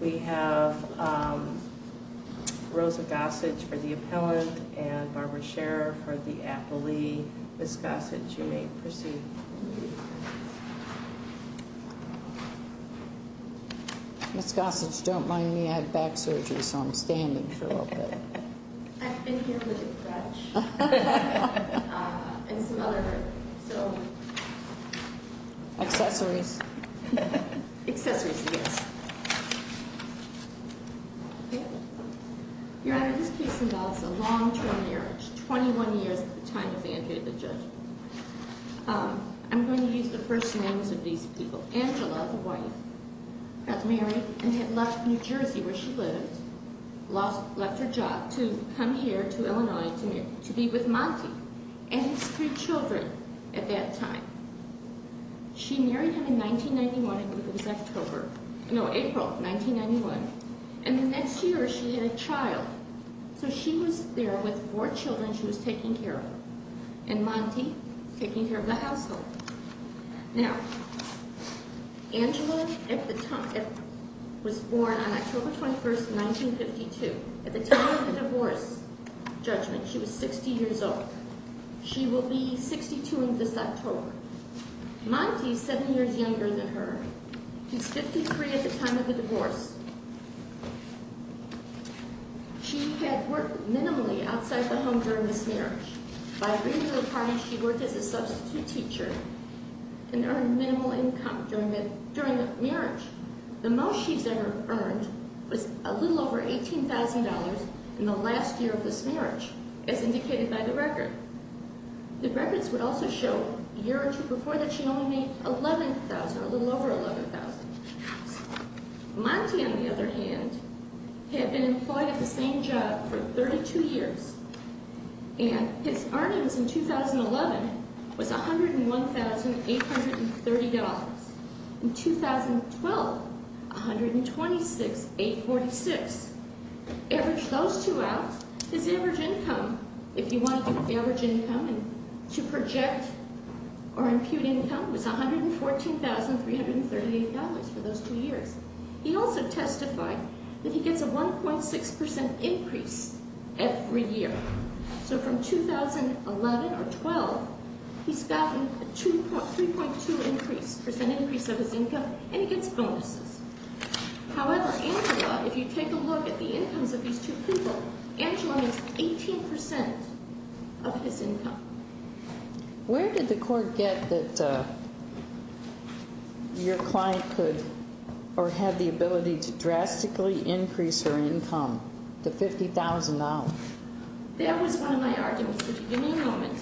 We have Rosa Gossage for the appellant and Barbara Scherer for the appellee. Ms. Gossage, you may proceed. Ms. Gossage, don't mind me, I had back surgery, so I'm standing for a little bit. I've been here with a crutch. And some other... Accessories. Accessories, yes. Your Honor, this case involves a long-term marriage, 21 years at the time of Andrew the judge. I'm going to use the first names of these people. Angela, the wife, got married and had left New Jersey where she lived, left her job to come here to Illinois to be with Monty and his three children at that time. She married him in 1991, it was October, no, April 1991. And the next year she had a child. So she was there with four children she was taking care of. And Monty, taking care of the household. Now, Angela was born on October 21st, 1952. At the time of the divorce judgment she was 60 years old. She will be 62 in this October. Monty is seven years younger than her. She's 53 at the time of the divorce. She had worked minimally outside the home during this marriage. By bringing her apart she worked as a substitute teacher and earned minimal income during the marriage. The most she's ever earned was a little over $18,000 in the last year of this marriage, as indicated by the record. The records would also show a year or two before that she only made $11,000, a little over $11,000. Monty, on the other hand, had been employed at the same job for 32 years. And his earnings in 2011 was $101,830. In 2012, $126,846. Average those two out. His average income, if you want to do average income and to project or impute income, was $114,338 for those two years. He also testified that he gets a 1.6% increase every year. So from 2011 or 12, he's gotten a 3.2% increase of his income and he gets bonuses. However, Angela, if you take a look at the incomes of these two people, Angela makes 18% of his income. Where did the court get that your client could or had the ability to drastically increase her income to $50,000? That was one of my arguments. Give me a moment.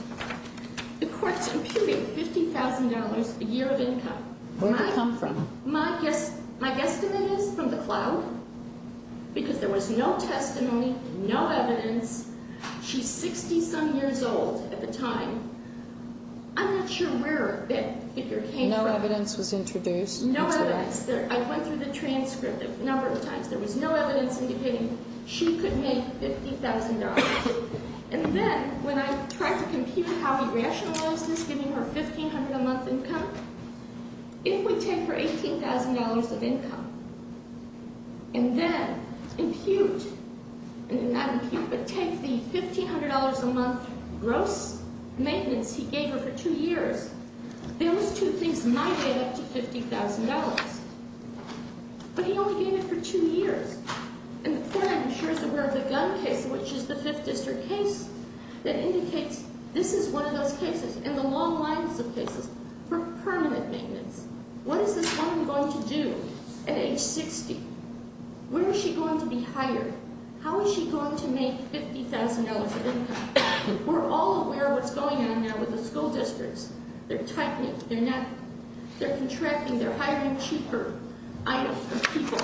The court's imputing $50,000 a year of income. Where did it come from? My guesstimate is from the cloud because there was no testimony, no evidence. She's 60-some years old at the time. I'm not sure where that figure came from. No evidence was introduced? No evidence. I went through the transcript a number of times. There was no evidence indicating she could make $50,000. And then when I tried to compute how he rationalized this, giving her $1,500 a month income, if we take her $18,000 of income and then impute, and not impute, but take the $1,500 a month gross maintenance he gave her for two years, those two things might add up to $50,000. But he only gave it for two years. And the court, I'm sure, is aware of the gun case, which is the Fifth District case, that indicates this is one of those cases, in the long lines of cases, for permanent maintenance. What is this woman going to do at age 60? Where is she going to be hired? How is she going to make $50,000 of income? We're all aware of what's going on now with the school districts. They're tightening, they're contracting, they're hiring cheaper items for people.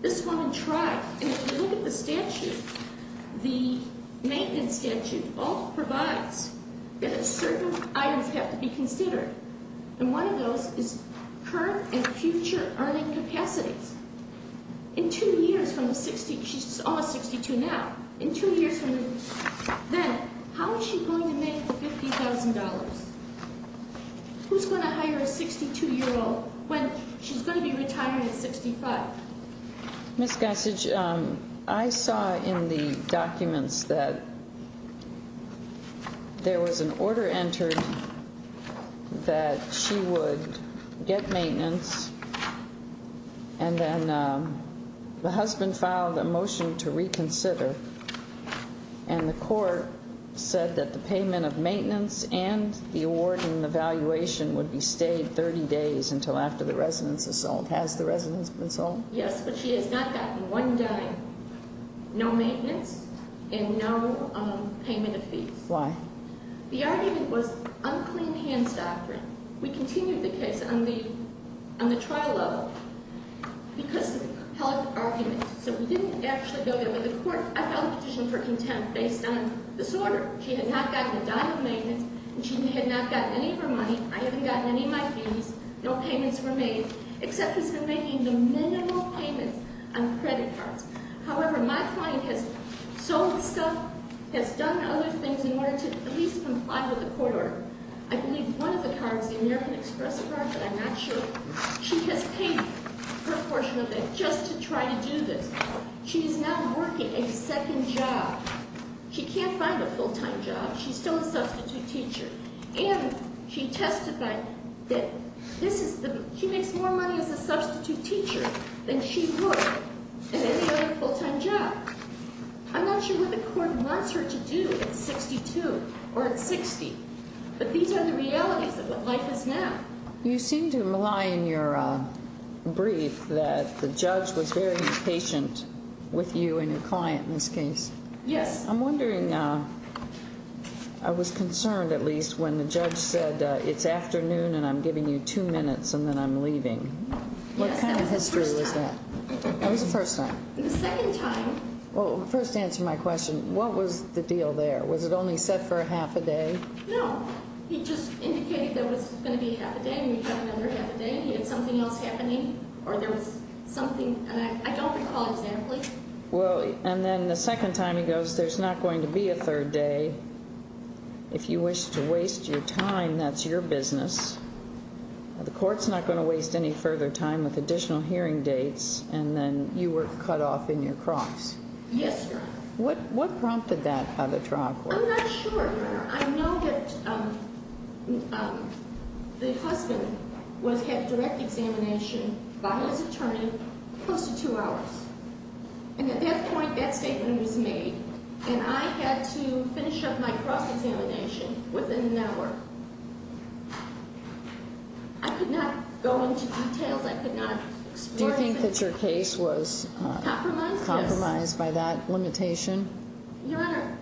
This woman tried. And if you look at the statute, the maintenance statute all provides that certain items have to be considered. And one of those is current and future earning capacities. In two years from the 60, she's almost 62 now, in two years from then, how is she going to make the $50,000? Who's going to hire a 62-year-old when she's going to be retiring at 65? Ms. Gessage, I saw in the documents that there was an order entered that she would get maintenance, and then the husband filed a motion to reconsider. And the court said that the payment of maintenance and the award and the valuation would be stayed 30 days until after the residence is sold. Has the residence been sold? Yes, but she has not gotten one dime, no maintenance, and no payment of fees. Why? The argument was unclean hands doctrine. We continued the case on the trial level because of the compelled argument. So we didn't actually go there, but the court, I filed a petition for contempt based on disorder. She had not gotten a dime of maintenance, and she had not gotten any of her money. I haven't gotten any of my fees. No payments were made, except he's been making the minimal payments on credit cards. However, my client has sold stuff, has done other things in order to at least comply with the court order. I believe one of the cards, the American Express card, but I'm not sure. She has paid her portion of it just to try to do this. She is now working a second job. She can't find a full-time job. She's still a substitute teacher. And she testified that she makes more money as a substitute teacher than she would at any other full-time job. I'm not sure what the court wants her to do at 62 or at 60, but these are the realities of what life is now. You seem to rely on your brief that the judge was very patient with you and your client in this case. Yes. I'm wondering, I was concerned at least when the judge said it's afternoon and I'm giving you two minutes and then I'm leaving. What kind of history was that? That was the first time. The second time. Well, first answer my question. What was the deal there? Was it only set for a half a day? No, he just indicated there was going to be a half a day and we had another half a day and he had something else happening or there was something. And I don't recall exactly. Well, and then the second time he goes, there's not going to be a third day. If you wish to waste your time, that's your business. The court's not going to waste any further time with additional hearing dates. And then you were cut off in your cross. Yes, Your Honor. What prompted that, how the trial court? I'm not sure, Your Honor. I know that the husband had direct examination by his attorney, close to two hours. And at that point, that statement was made and I had to finish up my cross examination within an hour. I could not go into details. Do you think that your case was compromised by that limitation? Your Honor.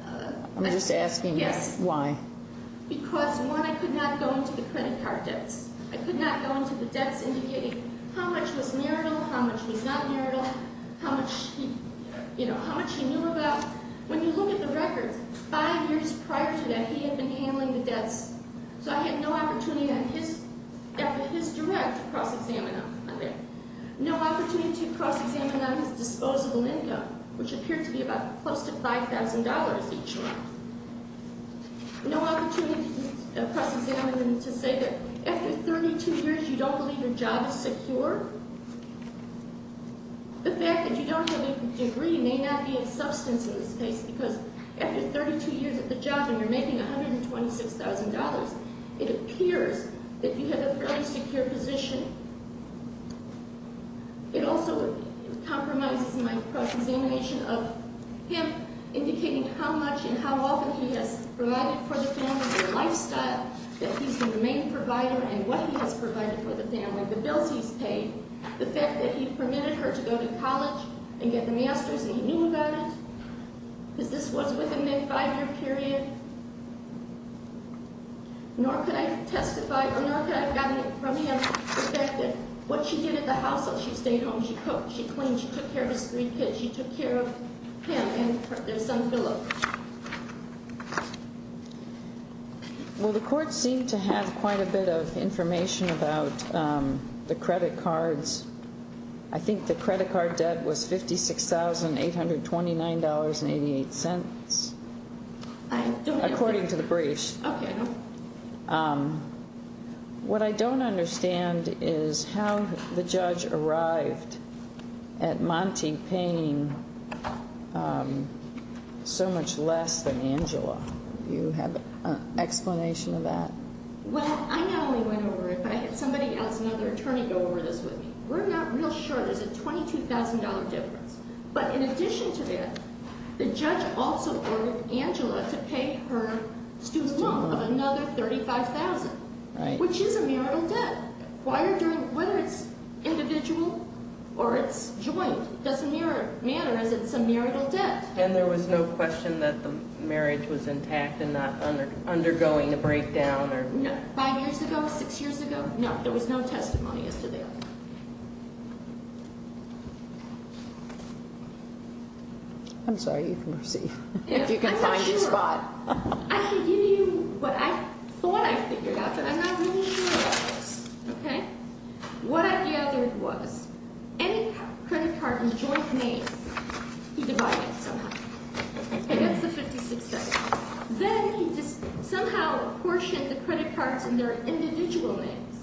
I'm just asking why. Because, one, I could not go into the credit card debts. I could not go into the debts indicating how much was marital, how much was not marital, how much he knew about. When you look at the records, five years prior to that, he had been handling the debts. So I had no opportunity after his direct cross-examination. No opportunity to cross-examine on his disposable income, which appeared to be close to $5,000 each month. No opportunity to cross-examine him to say that after 32 years you don't believe your job is secure. The fact that you don't have a degree may not be a substance in this case because after 32 years at the job and you're making $126,000, it appears that you have a fairly secure position. It also compromises my cross-examination of him indicating how much and how often he has provided for the family, their lifestyle, that he's the main provider and what he has provided for the family, the bills he's paid, the fact that he permitted her to go to college and get the master's and he knew about it, because this was within that five-year period. Nor could I testify, nor could I have gotten it from him, the fact that what she did at the household, she stayed home, she cooked, she cleaned, she took care of his three kids, she took care of him and their son, Phillip. Well, the court seemed to have quite a bit of information about the credit cards. I think the credit card debt was $56,829.88, according to the briefs. Okay. What I don't understand is how the judge arrived at Monte paying so much less than Angela. Do you have an explanation of that? Well, I not only went over it, but I had somebody else, another attorney, go over this with me. We're not real sure. There's a $22,000 difference. But in addition to that, the judge also ordered Angela to pay her student loan of another $35,000, which is a marital debt, whether it's individual or it's joint. It doesn't matter as it's a marital debt. And there was no question that the marriage was intact and not undergoing a breakdown? No. Five years ago, six years ago, no. There was no testimony as to that. I'm sorry. You can proceed. I'm not sure. If you can find your spot. I can give you what I thought I figured out, but I'm not really sure about this. Okay? What I gathered was any credit card in joint names, he divided it somehow. Okay, that's the $56,000. Then he just somehow apportioned the credit cards in their individual names,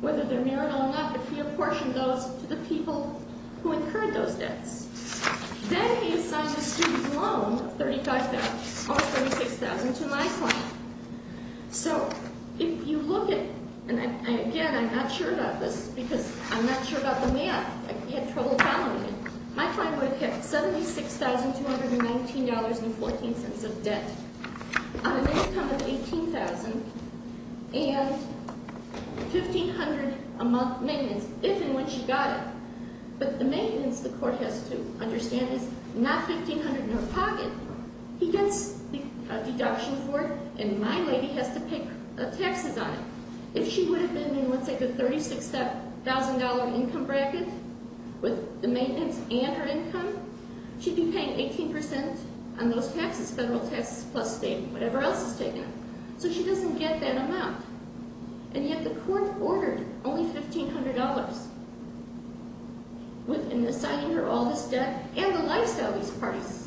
whether they're marital or not, but he apportioned those to the people who incurred those debts. Then he assigned the student loan of $35,000 or $36,000 to my client. So if you look at—and, again, I'm not sure about this because I'm not sure about the math. I had trouble calculating. My client would have had $76,219.14 of debt on an income of $18,000. And $1,500 a month maintenance, if and when she got it. But the maintenance, the court has to understand, is not $1,500 in her pocket. He gets a deduction for it, and my lady has to pay taxes on it. If she would have been in, let's say, the $36,000 income bracket with the maintenance and her income, she'd be paying 18% on those taxes, federal taxes plus state, whatever else is taken. So she doesn't get that amount. And yet the court ordered only $1,500 in assigning her all this debt and the lifestyle he's priced.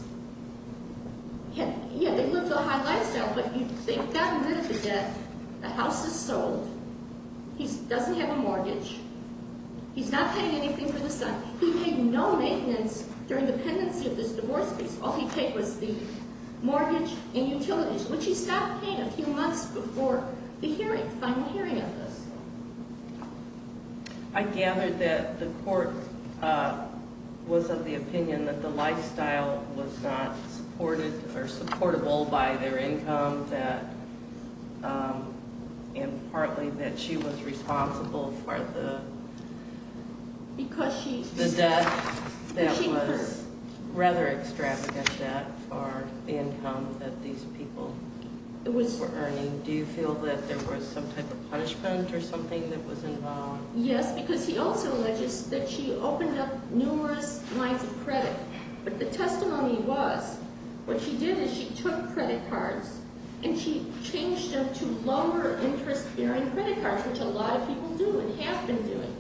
Yeah, they lived a high lifestyle, but they've gotten rid of the debt. The house is sold. He doesn't have a mortgage. He's not paying anything for the son. He paid no maintenance during the pendency of this divorce case. All he paid was the mortgage and utilities. And she stopped paying a few months before the hearing, final hearing of this. I gathered that the court was of the opinion that the lifestyle was not supported or supportable by their income, and partly that she was responsible for the debt that was rather extravagant debt for the income that these people were earning. Do you feel that there was some type of punishment or something that was involved? Yes, because he also alleges that she opened up numerous lines of credit. But the testimony was what she did is she took credit cards and she changed them to lower interest-bearing credit cards, which a lot of people do and have been doing.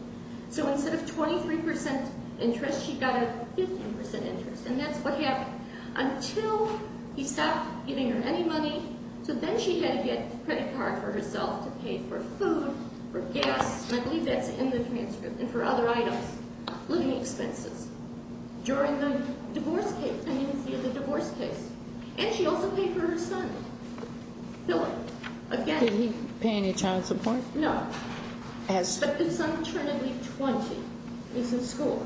So instead of 23% interest, she got a 15% interest, and that's what happened. Until he stopped giving her any money. So then she had to get a credit card for herself to pay for food, for gas, and I believe that's in the transcript, and for other items, living expenses, during the divorce case, pendency of the divorce case. And she also paid for her son. Bill, again. Did he pay any child support? No. But his son turned to be 20. He's in school.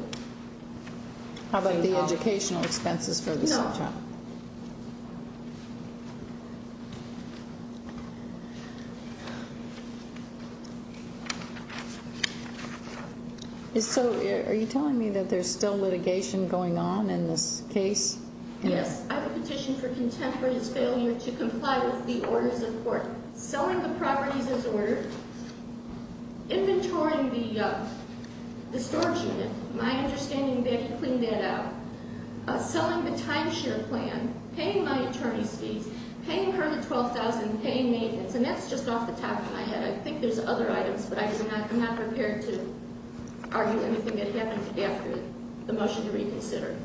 How about the educational expenses for the same child? No. So are you telling me that there's still litigation going on in this case? Yes. I have a petition for contempt for his failure to comply with the orders of court. Selling the properties as ordered. Inventorying the storage unit. My understanding is they have to clean that out. Selling the timeshare plan. Paying my attorney's fees. Paying her the $12,000. Paying maintenance. And that's just off the top of my head. I think there's other items, but I'm not prepared to argue anything that happened after the motion to reconsider.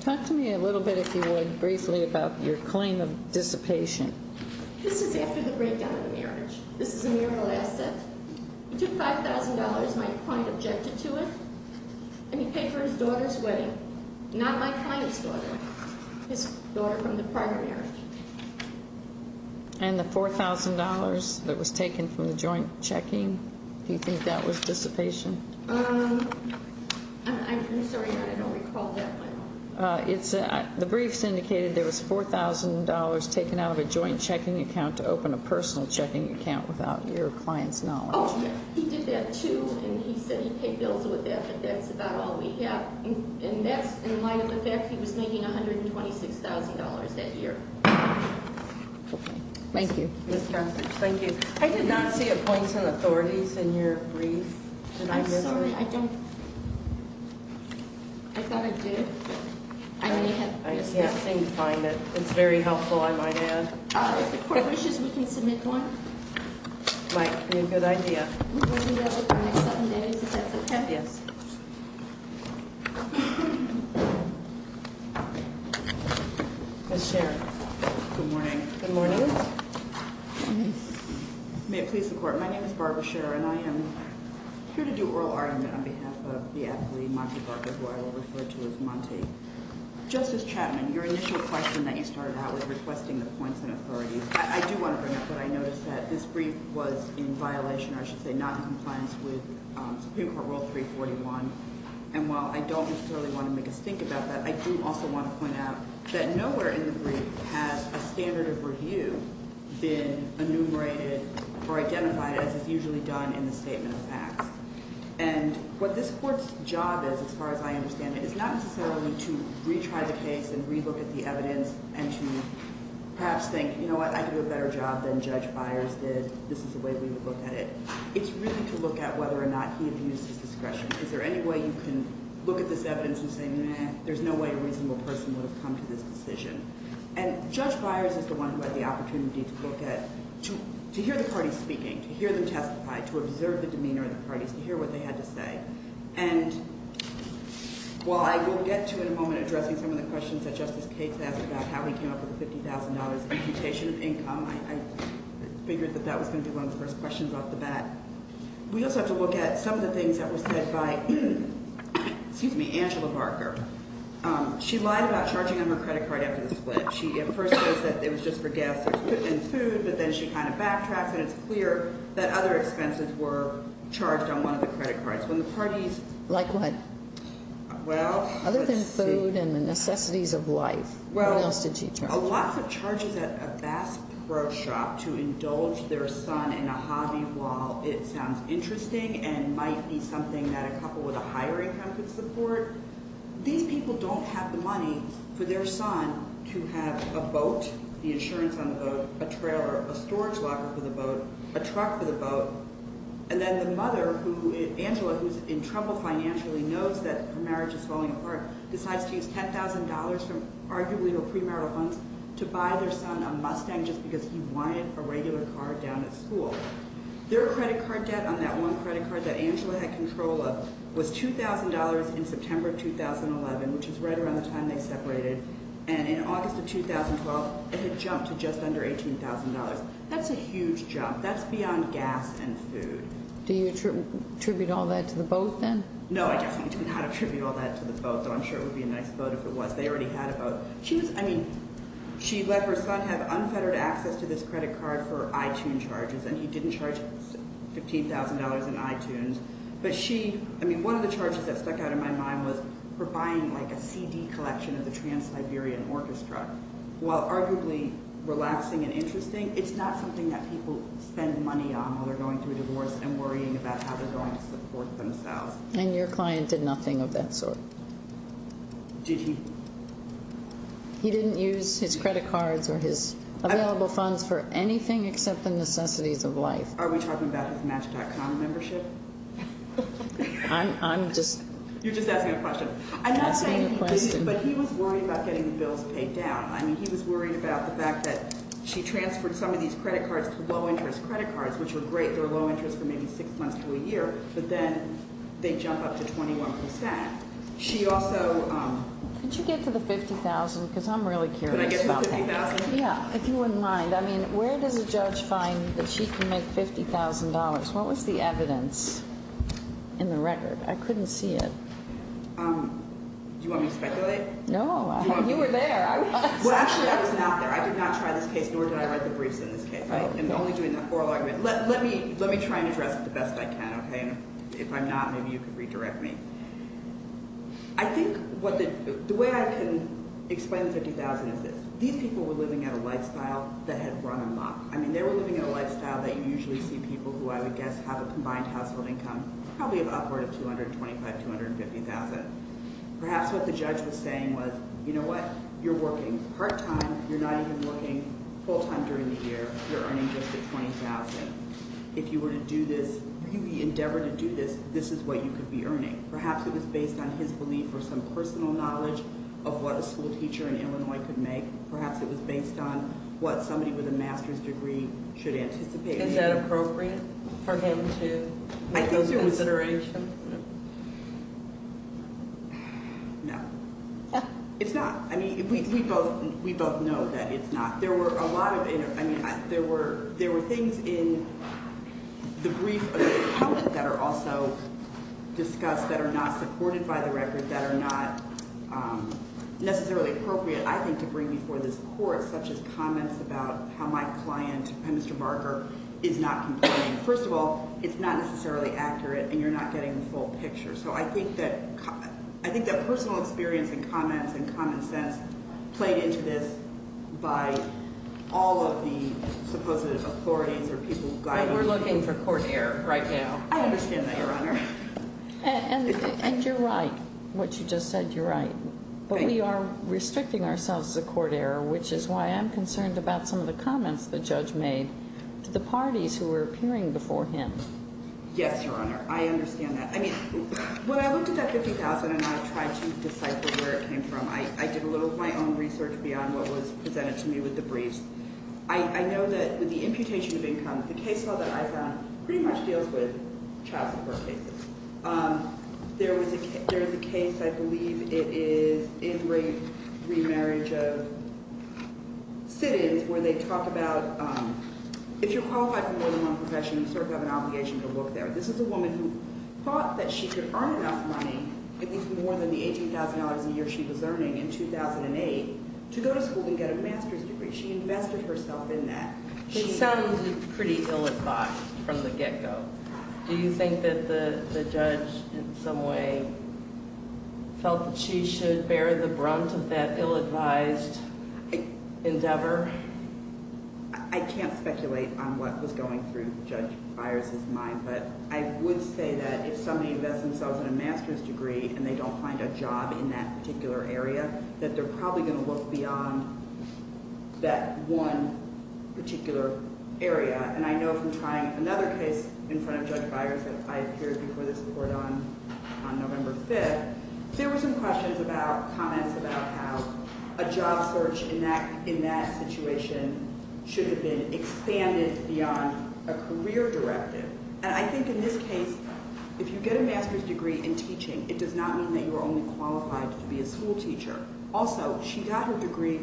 Talk to me a little bit, if you would, briefly about your claim of dissipation. This is after the breakdown of the marriage. This is a mural asset. It took $5,000. My client objected to it. And he paid for his daughter's wedding. Not my client's daughter. His daughter from the prior marriage. And the $4,000 that was taken from the joint checking, do you think that was dissipation? I'm sorry. I don't recall that. The briefs indicated there was $4,000 taken out of a joint checking account to open a personal checking account without your client's knowledge. Oh, yes. He did that, too. And he said he paid bills with that. But that's about all we have. And that's in light of the fact he was making $126,000 that year. Okay. Thank you. Thank you. I did not see a points and authorities in your brief. I'm sorry. I don't. I thought I did. I may have missed it. It's very helpful, I might add. If the court wishes, we can submit one. Good idea. We'll do that in the next seven days if that's okay. Yes. Ms. Sharon. Good morning. Good morning. May it please the Court. My name is Barbara Sharon. I am here to do oral argument on behalf of the athlete, Monty Barker, who I will refer to as Monty. Justice Chapman, your initial question that you started out with, requesting the points and authorities, I do want to bring up what I noticed, that this brief was in violation, or I should say not in compliance, with Supreme Court Rule 341. And while I don't necessarily want to make a stink about that, I do also want to point out that nowhere in the brief has a standard of review been enumerated or identified as is usually done in the statement of facts. And what this Court's job is, as far as I understand it, is not necessarily to retry the case and relook at the evidence and to perhaps think, you know what, I did a better job than Judge Byers did. This is the way we would look at it. It's really to look at whether or not he abused his discretion. Is there any way you can look at this evidence and say, meh, there's no way a reasonable person would have come to this decision. And Judge Byers is the one who had the opportunity to look at, to hear the parties speaking, to hear them testify, to observe the demeanor of the parties, to hear what they had to say. And while I will get to, in a moment, addressing some of the questions that Justice Cates asked about how he came up with the $50,000 imputation of income, I figured that that was going to be one of the first questions off the bat. We also have to look at some of the things that were said by, excuse me, Angela Barker. She lied about charging on her credit card after the split. She at first says that it was just for gas and food, but then she kind of backtracks, and it's clear that other expenses were charged on one of the credit cards. When the parties – Like what? Well, let's see. Other than food and the necessities of life, what else did she charge? Lots of charges at a Bass Pro Shop to indulge their son in a hobby while it sounds interesting and might be something that a couple with a higher income could support. These people don't have the money for their son to have a boat, the insurance on the boat, a trailer, a storage locker for the boat, a truck for the boat. And then the mother, Angela, who's in trouble financially, knows that her marriage is falling apart, decides to use $10,000 from arguably her premarital funds to buy their son a Mustang just because he wanted a regular car down at school. Their credit card debt on that one credit card that Angela had control of was $2,000 in September 2011, which is right around the time they separated, and in August of 2012, it had jumped to just under $18,000. That's a huge jump. That's beyond gas and food. Do you attribute all that to the boat, then? No, I definitely do not attribute all that to the boat, though I'm sure it would be a nice boat if it was. They already had a boat. She let her son have unfettered access to this credit card for iTunes charges, and he didn't charge $15,000 in iTunes. But one of the charges that stuck out in my mind was her buying a CD collection of the Trans-Liberian Orchestra. While arguably relaxing and interesting, it's not something that people spend money on while they're going through a divorce and worrying about how they're going to support themselves. And your client did nothing of that sort. Did he? He didn't use his credit cards or his available funds for anything except the necessities of life. Are we talking about his Match.com membership? I'm just— I'm not saying— You're asking a question. But he was worried about getting the bills paid down. I mean, he was worried about the fact that she transferred some of these credit cards to low-interest credit cards, which were great. They were low-interest for maybe six months to a year, but then they jump up to 21%. She also— Could you get to the $50,000? Because I'm really curious about that. Could I get to the $50,000? Yeah, if you wouldn't mind. I mean, where does a judge find that she can make $50,000? What was the evidence in the record? I couldn't see it. Do you want me to speculate? No, you were there. Well, actually, I was not there. I did not try this case, nor did I write the briefs in this case. I am only doing the oral argument. Let me try and address it the best I can, okay? If I'm not, maybe you can redirect me. I think what the—the way I can explain the $50,000 is this. These people were living at a lifestyle that had run amok. I mean, they were living at a lifestyle that you usually see people who, I would guess, have a combined household income. It's probably upward of $225,000, $250,000. Perhaps what the judge was saying was, you know what? You're working part-time. You're not even working full-time during the year. You're earning just the $20,000. If you were to do this, really endeavor to do this, this is what you could be earning. Perhaps it was based on his belief or some personal knowledge of what a schoolteacher in Illinois could make. Perhaps it was based on what somebody with a master's degree should anticipate. Is that appropriate for him to— I think so. —make those considerations? No. It's not. I mean, we both know that it's not. There were a lot of—I mean, there were things in the brief that are also discussed that are not supported by the record, that are not necessarily appropriate, I think, to bring before this court, such as comments about how my client, Mr. Barker, is not complaining. First of all, it's not necessarily accurate, and you're not getting the full picture. So I think that personal experience and comments and common sense played into this by all of the supposed authorities or people— But we're looking for court error right now. I understand that, Your Honor. And you're right. What you just said, you're right. But we are restricting ourselves to court error, which is why I'm concerned about some of the comments the judge made to the parties who were appearing before him. Yes, Your Honor. I understand that. I mean, when I looked at that $50,000 and I tried to decipher where it came from, I did a little of my own research beyond what was presented to me with the briefs. I know that with the imputation of income, the case law that I found pretty much deals with child support cases. There is a case, I believe it is, in rape remarriage of sit-ins where they talk about if you're qualified for more than one profession, you sort of have an obligation to look there. This is a woman who thought that she could earn enough money, at least more than the $18,000 a year she was earning in 2008, to go to school and get a master's degree. She invested herself in that. It sounds pretty ill-advised from the get-go. Do you think that the judge in some way felt that she should bear the brunt of that ill-advised endeavor? I can't speculate on what was going through Judge Byers' mind, but I would say that if somebody invests themselves in a master's degree and they don't find a job in that particular area, that they're probably going to look beyond that one particular area. And I know from trying another case in front of Judge Byers that I appeared before this court on November 5th, there were some questions about, comments about how a job search in that situation should have been expanded beyond a career directive. And I think in this case, if you get a master's degree in teaching, it does not mean that you are only qualified to be a school teacher. Also, she got her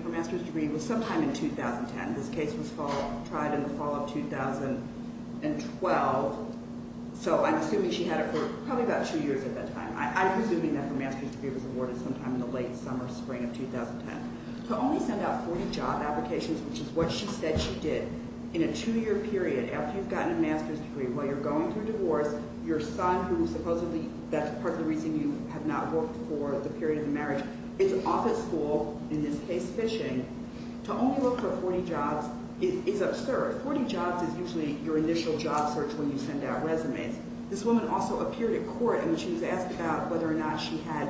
master's degree sometime in 2010. This case was tried in the fall of 2012. So I'm assuming she had it for probably about two years at that time. I'm assuming that her master's degree was awarded sometime in the late summer, spring of 2010. To only send out 40 job applications, which is what she said she did, in a two-year period, after you've gotten a master's degree, while you're going through divorce, your son, who supposedly that's part of the reason you have not worked for the period of the marriage, it's office school, in this case, fishing. To only work for 40 jobs is absurd. Forty jobs is usually your initial job search when you send out resumes. This woman also appeared in court when she was asked about whether or not she had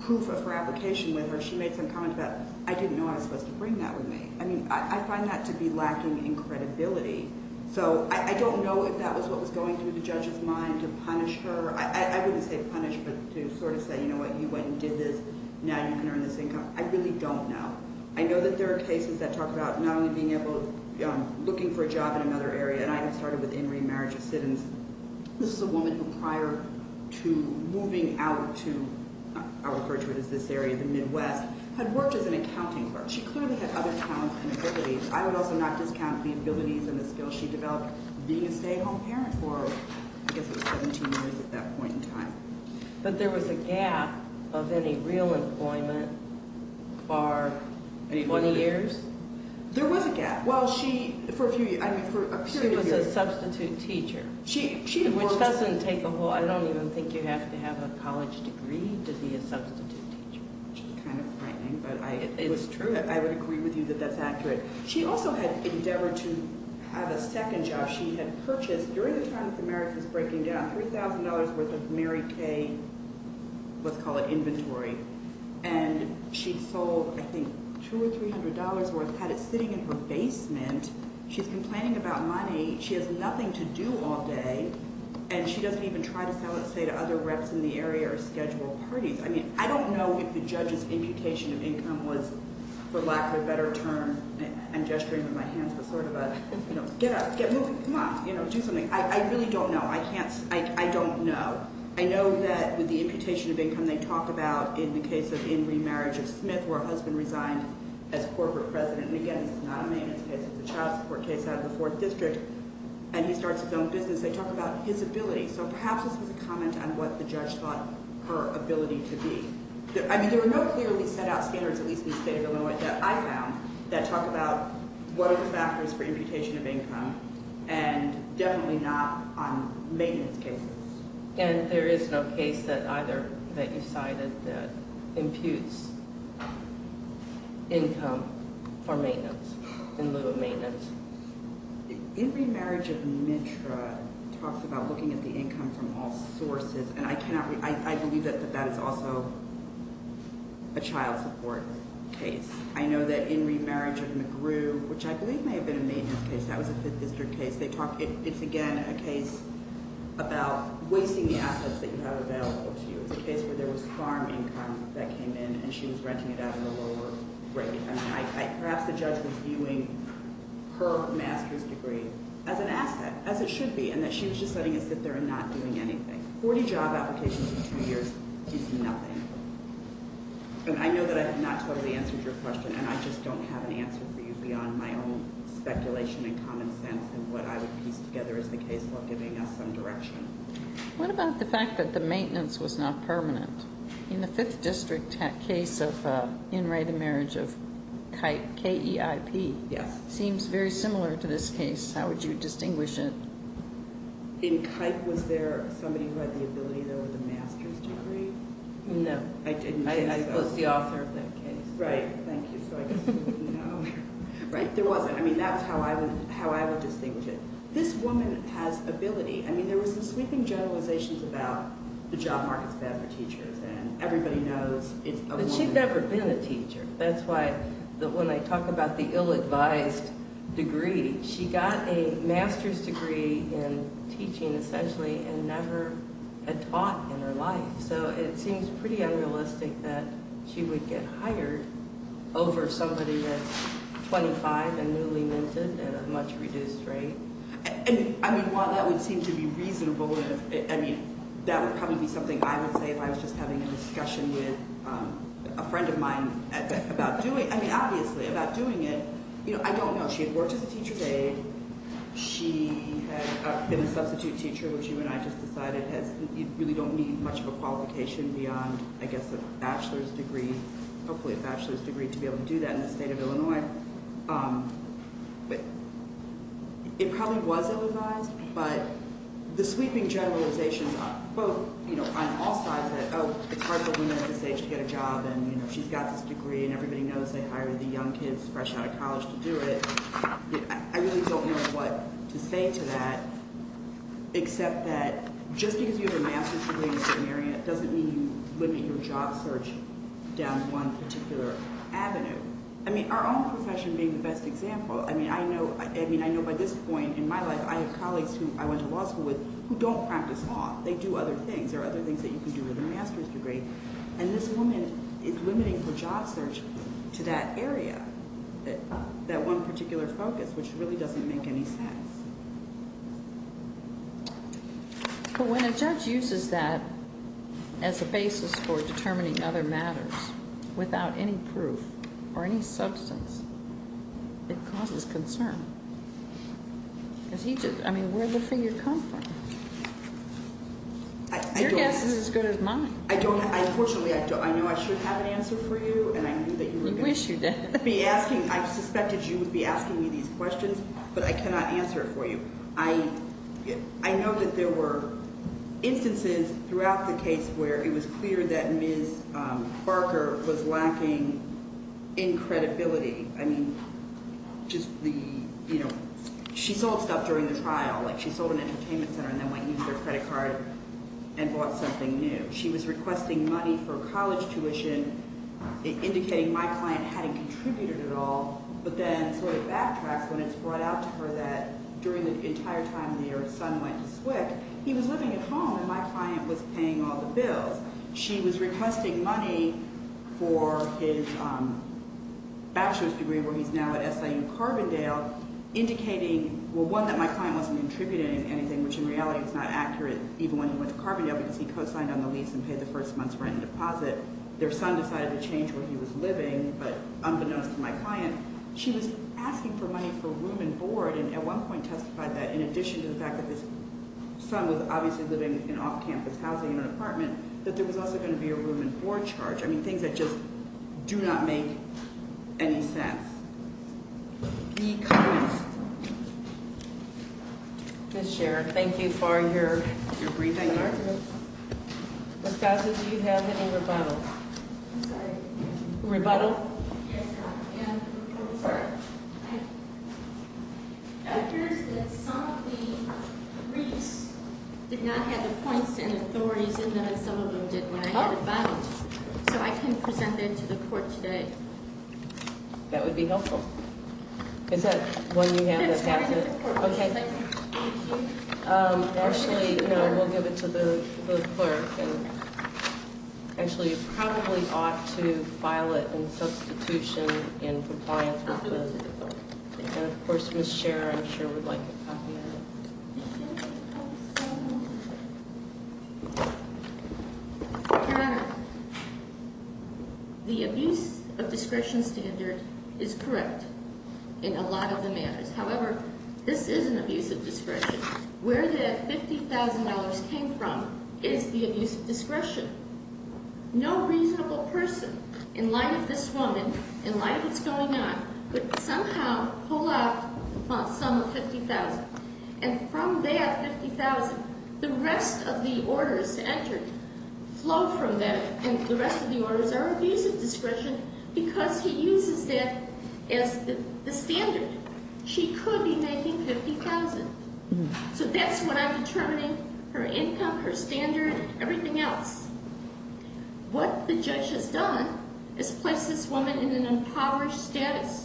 proof of her application with her. She made some comments about, I didn't know I was supposed to bring that with me. I mean, I find that to be lacking in credibility. So I don't know if that was what was going through the judge's mind to punish her. I wouldn't say punish, but to sort of say, you know what, you went and did this, now you can earn this income. I really don't know. I know that there are cases that talk about not only being able to, looking for a job in another area, and I had started with In Re Marriage of Citizens. This is a woman who prior to moving out to, I'll refer to it as this area, the Midwest, had worked as an accounting clerk. She clearly had other talents and abilities. I would also not discount the abilities and the skills she developed being a stay-at-home parent for, I guess it was 17 years at that point in time. But there was a gap of any real employment for 20 years? There was a gap. Well, she, for a period of years. She was a substitute teacher, which doesn't take a whole, I don't even think you have to have a college degree to be a substitute teacher. Which is kind of frightening, but it's true. I would agree with you that that's accurate. She also had endeavored to have a second job. She had purchased, during the time that the marriage was breaking down, $3,000 worth of Mary Kay, let's call it inventory. And she sold, I think, $200 or $300 worth, had it sitting in her basement. She's complaining about money. She has nothing to do all day, and she doesn't even try to sell it, say, to other reps in the area or schedule parties. I mean, I don't know if the judge's imputation of income was, for lack of a better term, I'm gesturing with my hands with sort of a, get up, get moving, come on, do something. I really don't know. I can't, I don't know. I know that with the imputation of income, they talk about, in the case of in remarriage of Smith, where her husband resigned as corporate president. And again, this is not a maintenance case. It's a child support case out of the Fourth District. And he starts his own business. They talk about his ability. So perhaps this was a comment on what the judge thought her ability to be. I mean, there were no clearly set out standards, at least in the state of Illinois, that I found that talk about what are the factors for imputation of income, and definitely not on maintenance cases. And there is no case that either, that you cited, that imputes income for maintenance, in lieu of maintenance. In remarriage of Mitra, it talks about looking at the income from all sources. And I cannot, I believe that that is also a child support case. I know that in remarriage of McGrew, which I believe may have been a maintenance case. That was a Fifth District case. They talk, it's again a case about wasting the assets that you have available to you. It's a case where there was farm income that came in, and she was renting it out at a lower rate. I mean, perhaps the judge was viewing her master's degree as an asset, as it should be, and that she was just letting it sit there and not doing anything. Forty job applications in two years is nothing. And I know that I have not totally answered your question, and I just don't have an answer for you beyond my own speculation and common sense, and what I would piece together as the case law giving us some direction. What about the fact that the maintenance was not permanent? In the Fifth District case of in right of marriage of Kipe, K-E-I-P. Yes. Seems very similar to this case. How would you distinguish it? In Kipe, was there somebody who had the ability to have a master's degree? No. I didn't think so. I was the author of that case. Right. Thank you. So I just didn't know. Right. There wasn't. I mean, that's how I would distinguish it. This woman has ability. I mean, there was some sweeping generalizations about the job market's bad for teachers, and everybody knows it's a woman. But she'd never been a teacher. That's why when I talk about the ill-advised degree, she got a master's degree in teaching, essentially, and never had taught in her life. So it seems pretty unrealistic that she would get hired over somebody that's 25 and newly minted at a much reduced rate. I mean, while that would seem to be reasonable, I mean, that would probably be something I would say if I was just having a discussion with a friend of mine about doing it. I mean, obviously, about doing it. I don't know. She had worked as a teacher's aide. She had been a substitute teacher, which you and I just decided really don't need much of a qualification beyond, I guess, a bachelor's degree, hopefully a bachelor's degree, to be able to do that in the state of Illinois. But it probably was ill-advised. But the sweeping generalizations are both on all sides that, oh, it's hard for a woman at this age to get a job, and she's got this degree, and everybody knows they hire the young kids fresh out of college to do it. I really don't know what to say to that, except that just because you have a master's degree in a certain area doesn't mean you look at your job search down one particular avenue. I mean, our own profession being the best example, I mean, I know by this point in my life, I have colleagues who I went to law school with who don't practice law. They do other things. There are other things that you can do with a master's degree. And this woman is limiting her job search to that area, that one particular focus, which really doesn't make any sense. But when a judge uses that as a basis for determining other matters without any proof or any substance, it causes concern. Because he just – I mean, where did the figure come from? Your guess is as good as mine. I don't – unfortunately, I know I shouldn't have an answer for you, and I knew that you were going to be asking – You wish you did. I know that there were instances throughout the case where it was clear that Ms. Barker was lacking in credibility. I mean, just the – she sold stuff during the trial, like she sold an entertainment center and then went and used her credit card and bought something new. She was requesting money for college tuition, indicating my client hadn't contributed at all, but then sort of backtracks when it's brought out to her that during the entire time their son went to SWCC, he was living at home and my client was paying all the bills. She was requesting money for his bachelor's degree where he's now at SIU Carbondale, indicating, well, one, that my client wasn't contributing anything, which in reality is not accurate even when he went to Carbondale because he co-signed on the lease and paid the first month's rent and deposit. She was asking for money for room and board, and at one point testified that in addition to the fact that his son was obviously living in off-campus housing in an apartment, that there was also going to be a room and board charge. I mean, things that just do not make any sense. Any comments? Ms. Scherer, thank you for your briefing. Ms. Garza, do you have any rebuttals? I'm sorry? Rebuttal? Yes, ma'am. It appears that some of the briefs did not have the points and authorities in them as some of them did when I had it filed. So I can present that to the court today. That would be helpful. Is that one you have that's happened? That's fine with the court. Okay. Actually, we'll give it to the clerk. Actually, you probably ought to file it in substitution in compliance with the court. Of course, Ms. Scherer, I'm sure, would like a copy of it. Your Honor, the abuse of discretion standard is correct in a lot of the matters. However, this is an abuse of discretion. Where that $50,000 came from is the abuse of discretion. No reasonable person, in light of this woman, in light of what's going on, could somehow pull off a sum of $50,000. And from that $50,000, the rest of the orders to enter flow from that, and the rest of the orders are abuse of discretion because he uses that as the standard. She could be making $50,000. So that's what I'm determining, her income, her standard, everything else. What the judge has done is placed this woman in an impoverished status.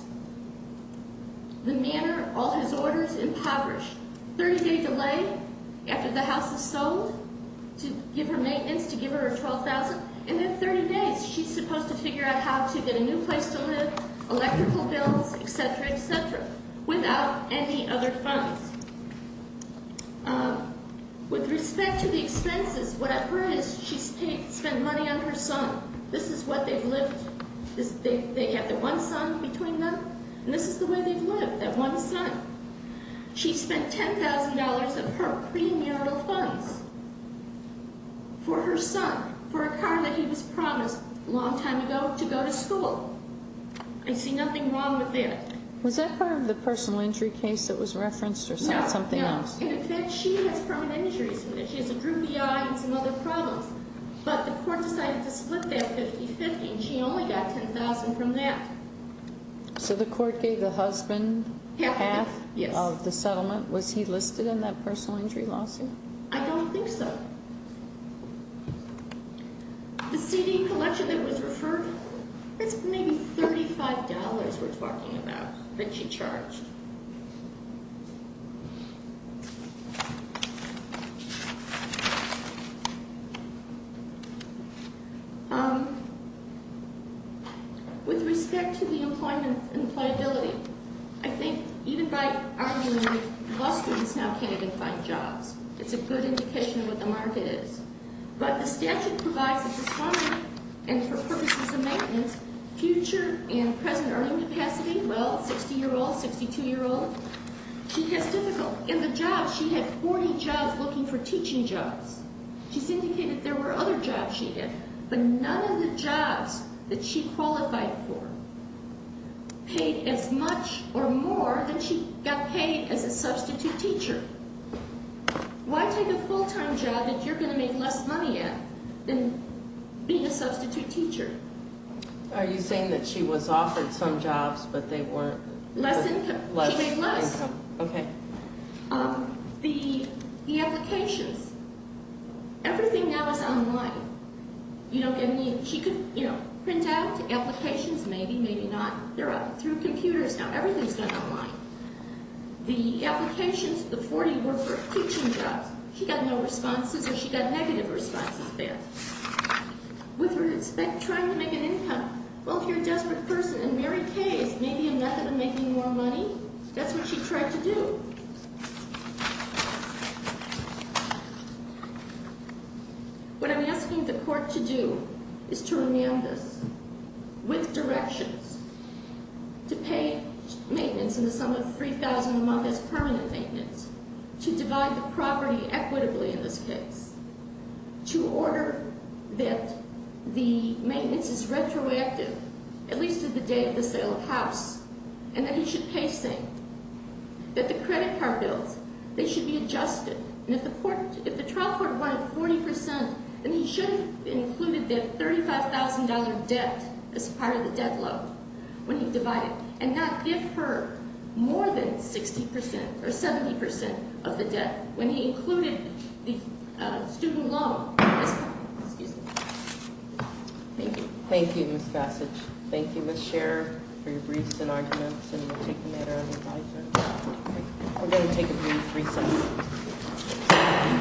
The manor, all his orders, impoverished. 30-day delay after the house is sold to give her maintenance, to give her her $12,000. And in 30 days, she's supposed to figure out how to get a new place to live, electrical bills, etc., etc., without any other funds. With respect to the expenses, what I've heard is she spent money on her son. This is what they've lived, they have one son between them, and this is the way they've lived, that one son. She spent $10,000 of her premarital funds for her son, for a car that he was promised a long time ago to go to school. I see nothing wrong with that. Was that part of the personal injury case that was referenced or something else? No, no. In effect, she has permanent injuries. She has a droopy eye and some other problems. But the court decided to split that 50-50, and she only got $10,000 from that. So the court gave the husband half of the settlement. Yes. Was he listed in that personal injury lawsuit? I don't think so. The CD collection that was referred, that's maybe $35 we're talking about that she charged. With respect to the employment and pliability, I think even by arguing law students now can't even find jobs, it's a good indication of what the market is. But the statute provides that the son, and for purposes of maintenance, future and present earning capacity, well, 60-year-old, 62-year-old, she has difficult. In the jobs, she had 40 jobs looking for teaching jobs. She's indicated there were other jobs she did, but none of the jobs that she qualified for paid as much or more than she got paid as a substitute teacher. Why take a full-time job that you're going to make less money at than being a substitute teacher? Are you saying that she was offered some jobs, but they weren't? Less income. Less income. She made less. Okay. The applications, everything now is online. You don't get any, she could, you know, print out applications, maybe, maybe not. They're up through computers now. Everything's done online. The applications, the 40 were for teaching jobs. She got no responses or she got negative responses there. With respect, trying to make an income. Well, if you're a desperate person and Mary Kay is maybe a method of making more money, that's what she tried to do. What I'm asking the court to do is to remand us with directions to pay maintenance in the sum of $3,000 a month as permanent maintenance, to divide the property equitably in this case. To order that the maintenance is retroactive, at least to the date of the sale of house, and that he should pay same. That the credit card bills, they should be adjusted. And if the court, if the trial court wanted 40%, then he should have included that $35,000 debt as part of the debt load when he divided. And not give her more than 60% or 70% of the debt. When he included the student loan. Excuse me. Thank you. Thank you, Ms. Passage. Thank you, Ms. Scherer, for your briefs and arguments. And we'll take them at our own advisement. We're going to take a brief recess.